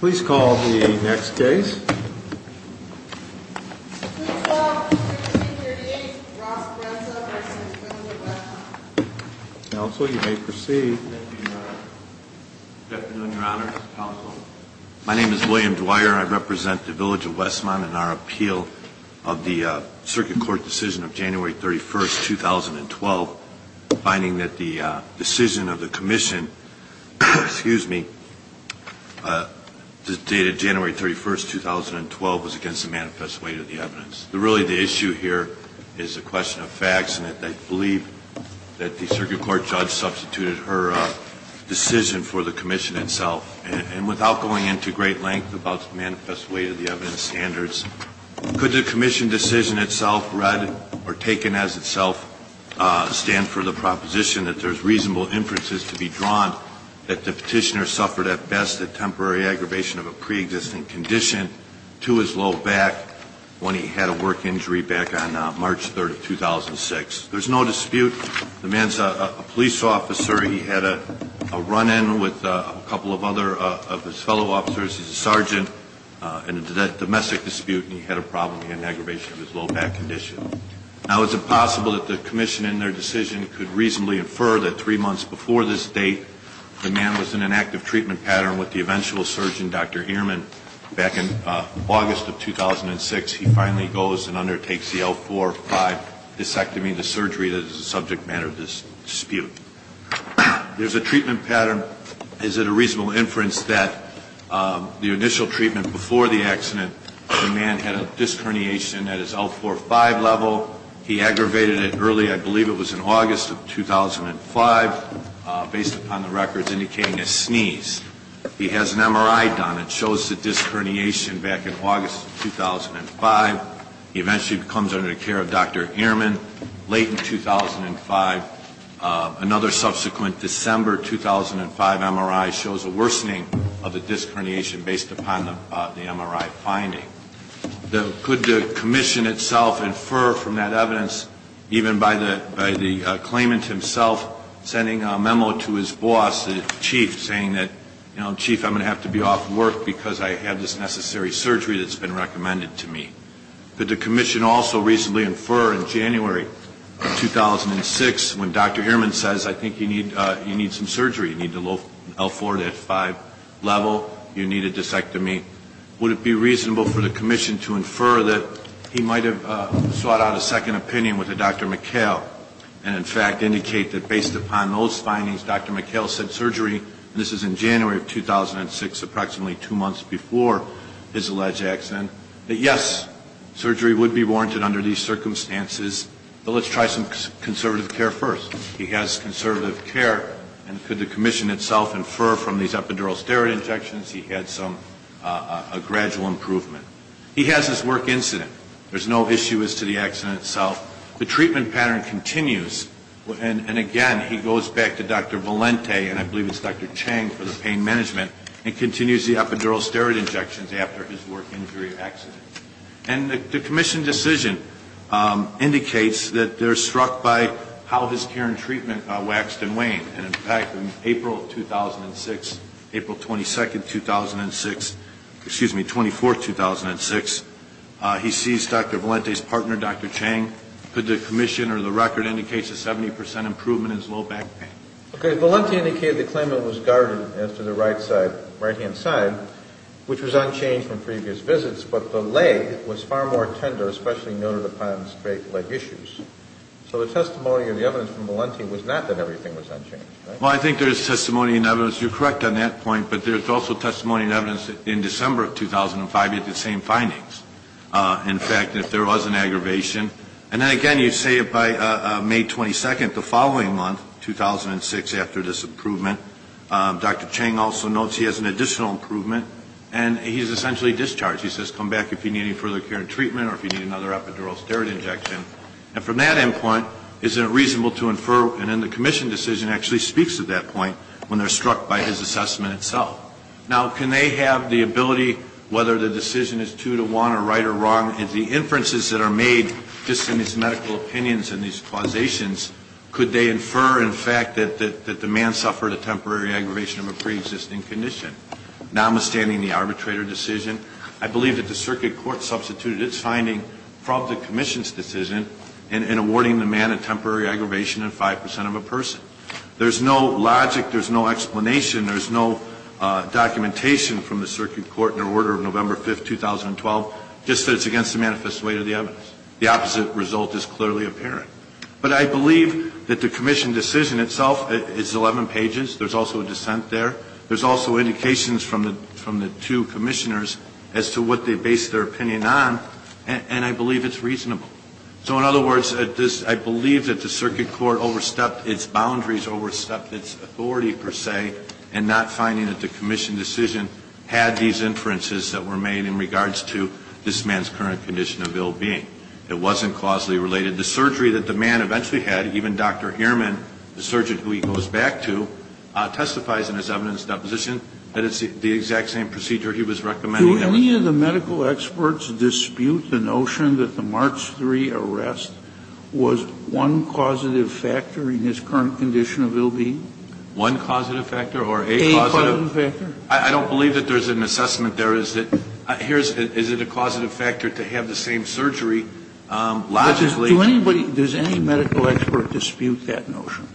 Please call the next case. Please call the next case. Counsel, you may proceed. Good afternoon, Your Honor, Counsel. My name is William Dwyer. I represent the Village of Westmont in our appeal of the Circuit Court decision of January 31st, 2012, finding that the decision of the Commission, excuse me, dated January 31st, 2012, was against the manifest weight of the evidence. Really, the issue here is a question of facts, and I believe that the Circuit Court judge substituted her decision for the Commission itself. And without going into great length about the manifest weight of the evidence standards, could the Commission decision itself read or taken as itself stand for the proposition that there's reasonable inferences to be drawn that the petitioner suffered at best a temporary aggravation of a preexisting condition to his low back when he had a work injury back on March 3rd of 2006? There's no dispute. The man's a police officer. He had a run-in with a couple of other of his fellow officers. He's a sergeant in a domestic dispute, and he had a problem with an aggravation of his low back condition. Now, is it possible that the Commission in their decision could reasonably infer that three months before this date, the man was in an active treatment pattern with the eventual surgeon, Dr. Heerman, back in August of 2006. He finally goes and undertakes the L-4-5 disectomy, the surgery that is the subject matter of this dispute. There's a treatment pattern. Is it a reasonable inference that the initial treatment before the accident, the man had a disc herniation at his L-4-5 level? He aggravated it early. I believe it was in August of 2005, based upon the records indicating a sneeze. He has an MRI done. It shows the disc herniation back in August of 2005. He eventually comes under the care of Dr. Heerman late in 2005. Another subsequent December 2005 MRI shows a worsening of the disc herniation based upon the MRI finding. Could the Commission itself infer from that evidence, even by the claimant himself, sending a memo to his boss, the chief, saying that, you know, Chief, I'm going to have to be off work because I have this necessary surgery that's been recommended to me. Could the Commission also reasonably infer in January of 2006 when Dr. Heerman says, I think you need some surgery. You need the L-4-5 level. You need a disectomy. Would it be reasonable for the Commission to infer that he might have sought out a second opinion with Dr. McHale and, in fact, indicate that based upon those findings, Dr. McHale said surgery, and this is in January of 2006, approximately two months before his alleged accident, that, yes, surgery would be warranted under these circumstances, but let's try some conservative care first. He has conservative care. And could the Commission itself infer from these epidural steroid injections he had some gradual improvement. He has his work incident. There's no issue as to the accident itself. The treatment pattern continues. And, again, he goes back to Dr. Valente, and I believe it's Dr. Chang for the pain management, and continues the epidural steroid injections after his work injury accident. And the Commission decision indicates that they're struck by how his care and treatment waxed and waned. And, in fact, in April of 2006, April 22, 2006, excuse me, 24, 2006, he seized Dr. Valente's partner, Dr. Chang. Could the Commission or the record indicate a 70% improvement in his low back pain? Okay. Valente indicated the claimant was guarded as to the right-hand side, which was unchanged from previous visits, but the leg was far more tender, especially noted upon straight leg issues. So the testimony or the evidence from Valente was not that everything was unchanged, right? Well, I think there is testimony and evidence. You're correct on that point, but there's also testimony and evidence that in December of 2005, you had the same findings. In fact, if there was an aggravation. And then, again, you say by May 22, the following month, 2006, after this improvement, Dr. Chang also notes he has an additional improvement, and he's essentially discharged. He says, come back if you need any further care and treatment or if you need another epidural steroid injection. And then the Commission decision actually speaks to that point when they're struck by his assessment itself. Now, can they have the ability, whether the decision is two to one or right or wrong, if the inferences that are made just in these medical opinions and these causations, could they infer, in fact, that the man suffered a temporary aggravation of a preexisting condition? Notwithstanding the arbitrator decision, I believe that the circuit court substituted its finding from the Commission's decision in awarding the man a temporary aggravation of 5 percent of a person. There's no logic. There's no explanation. There's no documentation from the circuit court in the order of November 5, 2012, just that it's against the manifest way of the evidence. The opposite result is clearly apparent. But I believe that the Commission decision itself is 11 pages. There's also a dissent there. There's also indications from the two commissioners as to what they base their opinion on, and I believe it's reasonable. So in other words, I believe that the circuit court overstepped its boundaries, overstepped its authority, per se, and not finding that the Commission decision had these inferences that were made in regards to this man's current condition of ill-being. It wasn't causally related. The surgery that the man eventually had, even Dr. Ehrman, the surgeon who he goes back to, testifies in his evidence deposition that it's the exact same procedure he was recommending. Do any of the medical experts dispute the notion that the March 3 arrest was one causative factor in his current condition of ill-being? One causative factor or a causative? A causative factor. I don't believe that there's an assessment there. Is it a causative factor to have the same surgery? Logically. Does anybody, does any medical expert dispute that notion?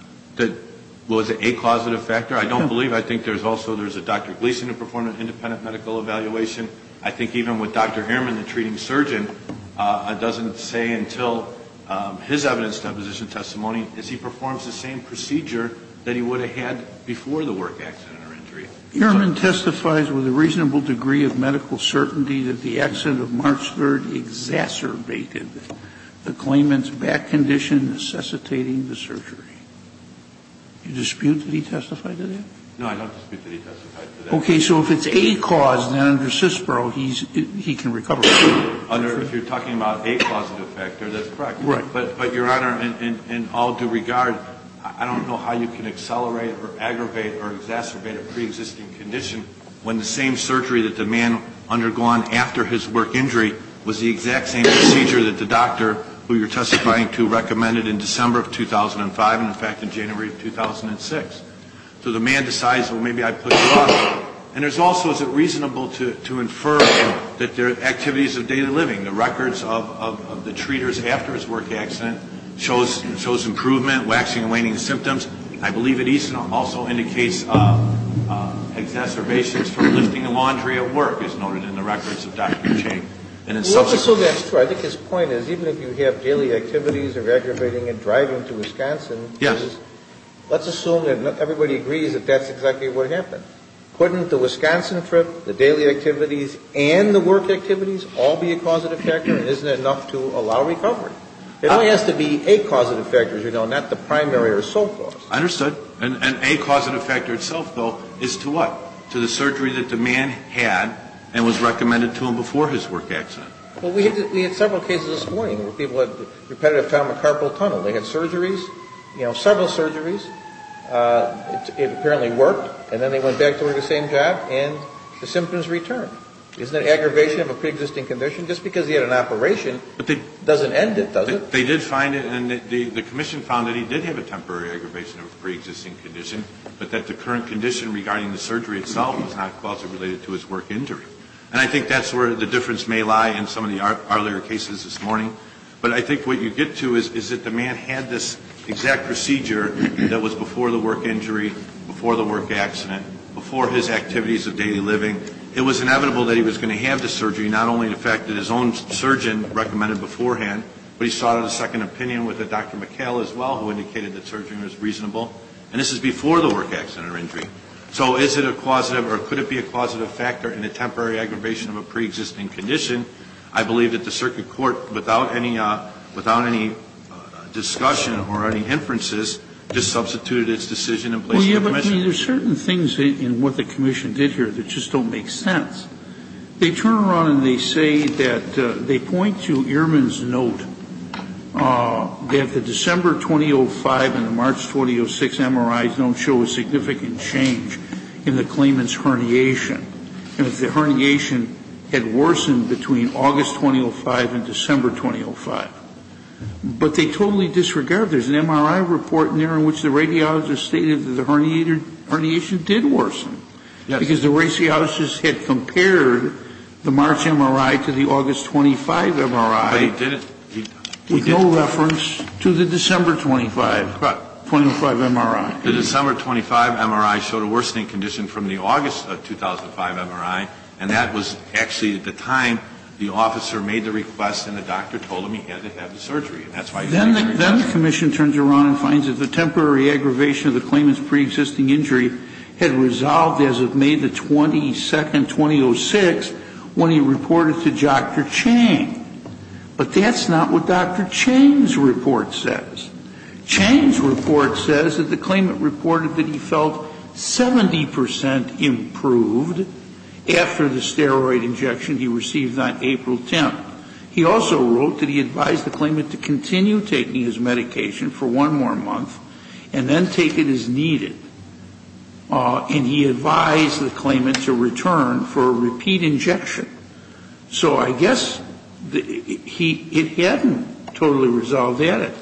Was it a causative factor? I don't believe. I think there's also, there's a Dr. Gleason who performed an independent medical evaluation. I think even with Dr. Ehrman, the treating surgeon, doesn't say until his evidence deposition testimony is he performs the same procedure that he would have had before the work accident or injury. Ehrman testifies with a reasonable degree of medical certainty that the accident of March 3 exacerbated the claimant's back condition necessitating the surgery. Do you dispute that he testified to that? No, I don't dispute that he testified to that. Okay. So if it's a cause, then under CISPRO, he can recover from it. If you're talking about a causative factor, that's correct. Right. But, Your Honor, in all due regard, I don't know how you can accelerate or aggravate or exacerbate a preexisting condition when the same surgery that the man undergone after his work injury was the exact same procedure that the doctor who you're testifying to recommended in December of 2005 and, in fact, in January of 2006. So the man decides, well, maybe I push it off. And there's also, is it reasonable to infer that there are activities of daily living, the records of the treaters after his work accident, shows improvement, waxing and waning symptoms. I believe it also indicates exacerbations from lifting the laundry at work, as noted in the records of Dr. Chang. Well, let's assume that's true. I think his point is even if you have daily activities of aggravating and driving to Wisconsin. Yes. Let's assume that everybody agrees that that's exactly what happened. Couldn't the Wisconsin trip, the daily activities, and the work activities all be a causative factor? Isn't it enough to allow recovery? It only has to be a causative factor, as you know, not the primary or so forth. Understood. And a causative factor itself, though, is to what? To the surgery that the man had and was recommended to him before his work accident. Well, we had several cases this morning where people had repetitive trauma carpal tunnel. They had surgeries, you know, several surgeries. It apparently worked. And then they went back to the same job and the symptoms returned. Isn't that aggravation of a preexisting condition? Just because he had an operation doesn't end it, does it? They did find it. And the commission found that he did have a temporary aggravation of a preexisting condition, but that the current condition regarding the surgery itself was not causatively related to his work injury. And I think that's where the difference may lie in some of the earlier cases this morning. But I think what you get to is that the man had this exact procedure that was before the work injury, before the work accident, before his activities of daily living. It was inevitable that he was going to have the surgery, not only the fact that his own surgeon recommended beforehand, but he sought a second opinion with Dr. McHale as well, who indicated that surgery was reasonable. And this is before the work accident or injury. So is it a causative or could it be a causative factor in a temporary aggravation of a preexisting condition? I believe that the circuit court, without any discussion or any inferences, just substituted its decision in place of the commission. Well, yeah, but there are certain things in what the commission did here that just don't make sense. They turn around and they say that they point to Ehrman's note that the December 2005 and the March 2006 MRIs don't show a significant change in the claimant's herniation. The herniation had worsened between August 2005 and December 2005. But they totally disregarded it. There's an MRI report in there in which the radiologist stated that the herniation did worsen. Yes. Because the radiologist had compared the March MRI to the August 2005 MRI. But he didn't. With no reference to the December 2005 MRI. The December 2005 MRI showed a worsening condition from the August 2005 MRI. And that was actually at the time the officer made the request and the doctor told him he had to have the surgery. Then the commission turns around and finds that the temporary aggravation of the claimant's preexisting injury had resolved as of May 22, 2006, when he reported to Dr. Chang. But that's not what Dr. Chang's report says. Chang's report says that the claimant reported that he felt 70% improved after the steroid injection he received on April 10th. He also wrote that he advised the claimant to continue taking his medication for one more month and then take it as needed. And he advised the claimant to return for a repeat injection. So I guess it hadn't totally resolved at it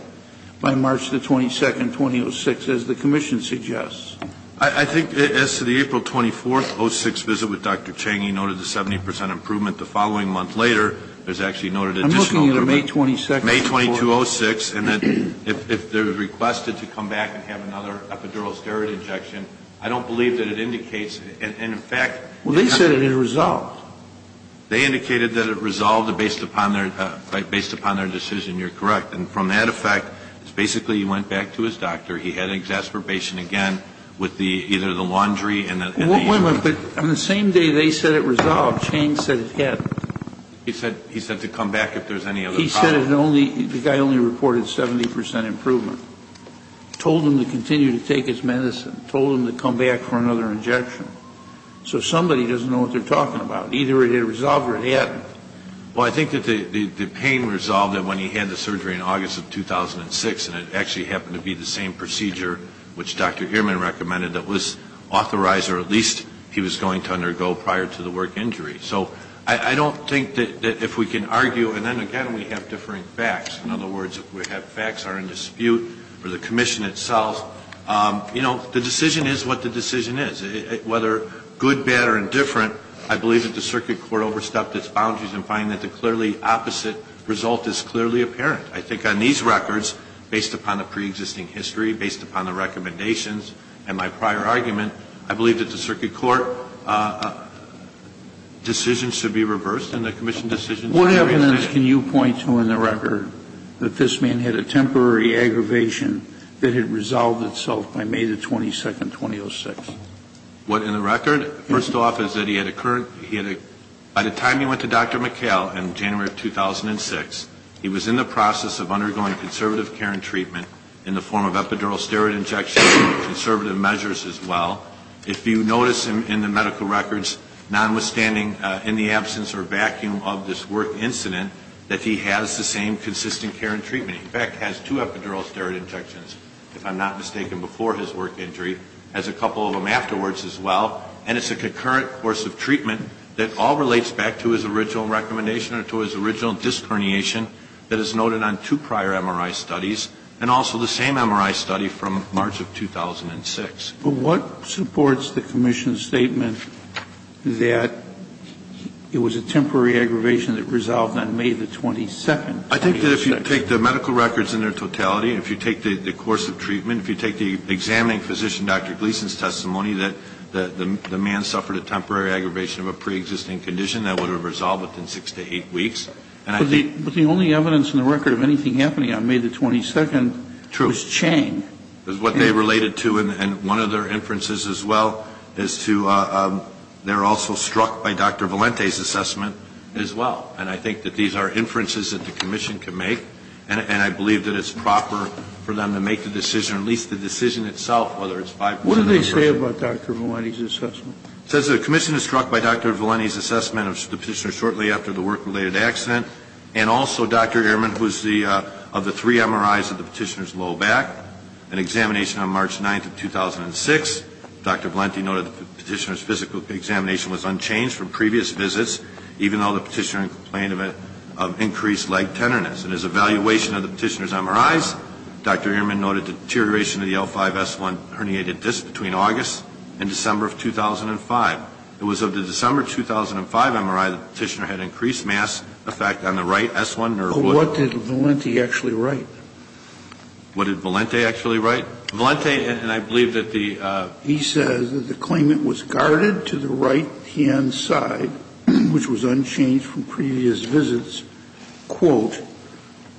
by March 22, 2006, as the commission suggests. I think as to the April 24, 2006 visit with Dr. Chang, he noted the 70% improvement the following month later. There's actually noted additional improvement. I'm looking at a May 22 report. May 22, 2006. And if they're requested to come back and have another epidural steroid injection, I don't believe that it indicates. Well, they said it had resolved. They indicated that it resolved based upon their decision. You're correct. And from that effect, it's basically he went back to his doctor. He had an exasperation again with either the laundry and the... Wait a minute. On the same day they said it resolved, Chang said it hadn't. He said to come back if there's any other problem. He said the guy only reported 70% improvement, told him to continue to take his injection. So somebody doesn't know what they're talking about. Either it had resolved or it hadn't. Well, I think that the pain resolved when he had the surgery in August of 2006, and it actually happened to be the same procedure which Dr. Ehrman recommended that was authorized or at least he was going to undergo prior to the work injury. So I don't think that if we can argue, and then again we have differing facts. In other words, if we have facts that are in dispute or the commission itself, you know, the decision is what the decision is. Whether good, bad or indifferent, I believe that the circuit court overstepped its boundaries in finding that the clearly opposite result is clearly apparent. I think on these records, based upon the preexisting history, based upon the recommendations and my prior argument, I believe that the circuit court decision should be reversed and the commission decision should be reversed. What evidence can you point to in the record that this man had a temporary aggravation that had resolved itself by May the 22nd, 2006? What in the record? First off is that he had a current, by the time he went to Dr. McHale in January of 2006, he was in the process of undergoing conservative care and treatment in the form of epidural steroid injections and conservative measures as well. If you notice in the medical records, nonwithstanding in the absence or vacuum of this work incident, that he has the same consistent care and treatment. In fact, has two epidural steroid injections, if I'm not mistaken, before his work injury. Has a couple of them afterwards as well. And it's a concurrent course of treatment that all relates back to his original recommendation or to his original disc herniation that is noted on two prior MRI studies and also the same MRI study from March of 2006. But what supports the commission's statement that it was a temporary aggravation that resolved on May the 22nd, 2006? I think that if you take the medical records in their totality, if you take the course of treatment, if you take the examining physician, Dr. Gleason's testimony, that the man suffered a temporary aggravation of a preexisting condition that would have resolved within six to eight weeks. And I think But the only evidence in the record of anything happening on May the 22nd was Chang. True. Because what they related to and one of their inferences as well is to they're also struck by Dr. Valente's assessment as well. And I think that these are inferences that the commission can make. And I believe that it's proper for them to make the decision, at least the decision itself, whether it's 5 percent or 10 percent. What did they say about Dr. Valente's assessment? It says the commission is struck by Dr. Valente's assessment of the Petitioner shortly after the work-related accident. And also Dr. Ehrman, who is the of the three MRIs of the Petitioner's low back, an examination on March 9th of 2006. Dr. Valente noted the Petitioner's physical examination was unchanged from previous visits, even though the Petitioner complained of increased leg tenderness. And his evaluation of the Petitioner's MRIs, Dr. Ehrman noted deterioration of the L5S1 herniated disc between August and December of 2005. It was of the December 2005 MRI the Petitioner had increased mass effect on the right S1 nerve wood. But what did Valente actually write? What did Valente actually write? Valente, and I believe that the He says the claimant was guarded to the right hand side, which was unchanged from previous visits, quote,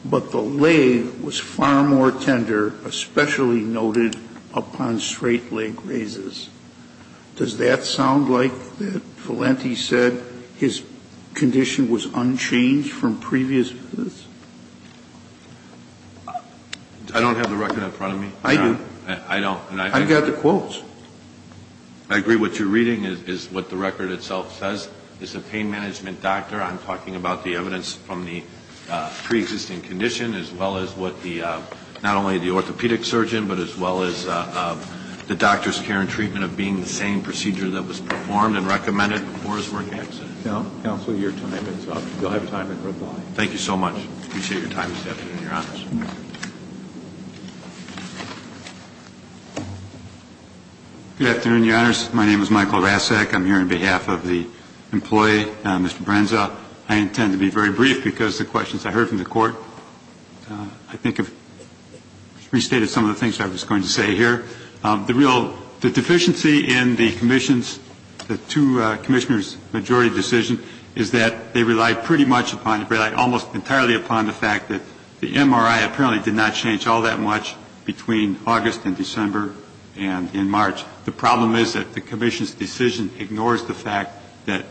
but the leg was far more tender, especially noted upon straight leg raises. Does that sound like that Valente said his condition was unchanged from previous visits? I don't have the record in front of me. I do. I don't. I've got the quotes. I agree what you're reading is what the record itself says. It's a pain management doctor. I'm talking about the evidence from the preexisting condition, as well as what the, not only the orthopedic surgeon, but as well as the doctor's care and treatment of being the same procedure that was performed and recommended before his work accident. Counsel, your time is up. You'll have time to reply. Thank you so much. I appreciate your time this afternoon, Your Honors. Good afternoon, Your Honors. My name is Michael Rasek. I'm here on behalf of the employee, Mr. Brenza. I intend to be very brief because the questions I heard from the Court, I think, have restated some of the things I was going to say here. The real deficiency in the commission's, the two commissioners' majority decision is that they rely pretty much upon, rely almost entirely upon the fact that the MRI apparently did not change all that much between August and December and in March. The problem is that the commission's decision ignores the fact that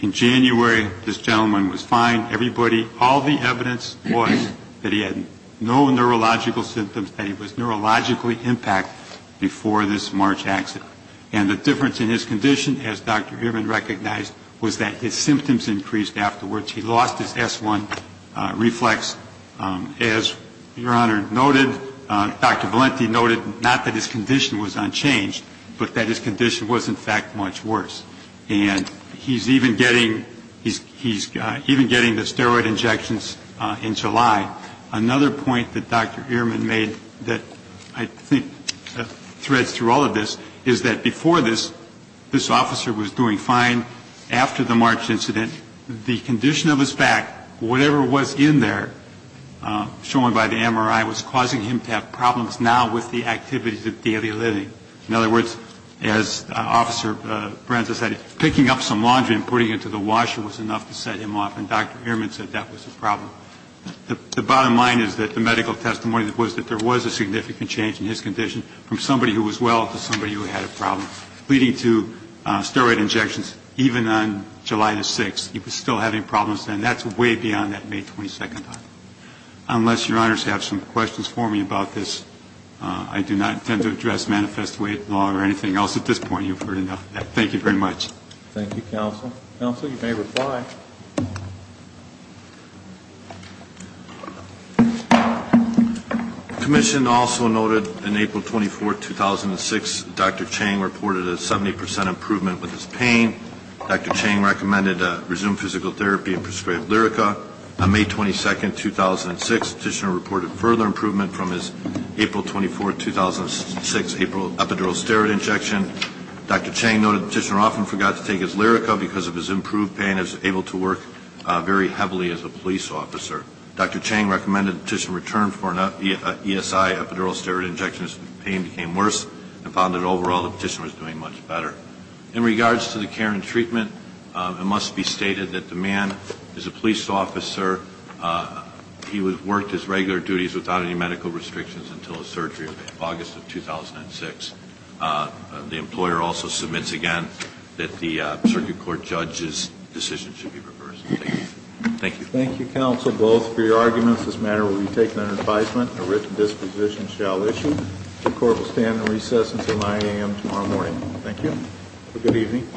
in January, this gentleman was fine. Everybody, all the evidence was that he had no neurological symptoms, that he was neurologically impacted before this March accident. And the difference in his condition, as Dr. Ehrman recognized, was that his symptoms increased afterwards. He lost his S1 reflex. As Your Honor noted, Dr. Valenti noted not that his condition was unchanged, but that his condition was, in fact, much worse. And he's even getting, he's even getting the steroid injections in July. Another point that Dr. Ehrman made that I think threads through all of this is that before this, this officer was doing fine. After the March incident, the condition of his back, whatever was in there, shown by the MRI, was causing him to have problems now with the activities of daily living. In other words, as Officer Branza said, picking up some laundry and putting it to the washer was enough to set him off. And Dr. Ehrman said that was the problem. The bottom line is that the medical testimony was that there was a significant change in his condition from somebody who was well to somebody who had a problem, leading to steroid injections even on July the 6th. He was still having problems then. That's way beyond that May 22nd time. Unless Your Honors have some questions for me about this, I do not intend to address Manifest Weight Law or anything else at this point. You've heard enough of that. Thank you very much. Thank you, Counsel. Counsel, you may reply. The Commission also noted on April 24th, 2006, Dr. Chang reported a 70 percent improvement with his pain. Dr. Chang recommended resumed physical therapy and prescribed Lyrica. On May 22nd, 2006, the Petitioner reported further improvement from his April 24th, 2006 epidural steroid injection. Dr. Chang noted the Petitioner often forgot to take his Lyrica because of his improved pain and was able to work very heavily as a police officer. Dr. Chang recommended the Petitioner return for an ESI epidural steroid injection as the pain became worse and found that overall the Petitioner was doing much better. In regards to the care and treatment, it must be stated that the man is a police officer. He worked his regular duties without any medical restrictions until his surgery in August of 2006. The employer also submits again that the circuit court judge's decision should be reversed. Thank you. Thank you, Counsel, both for your arguments. This matter will be taken under advisement. A written disposition shall issue. The court will stand in recess until 9 a.m. tomorrow morning. Thank you. Have a good evening.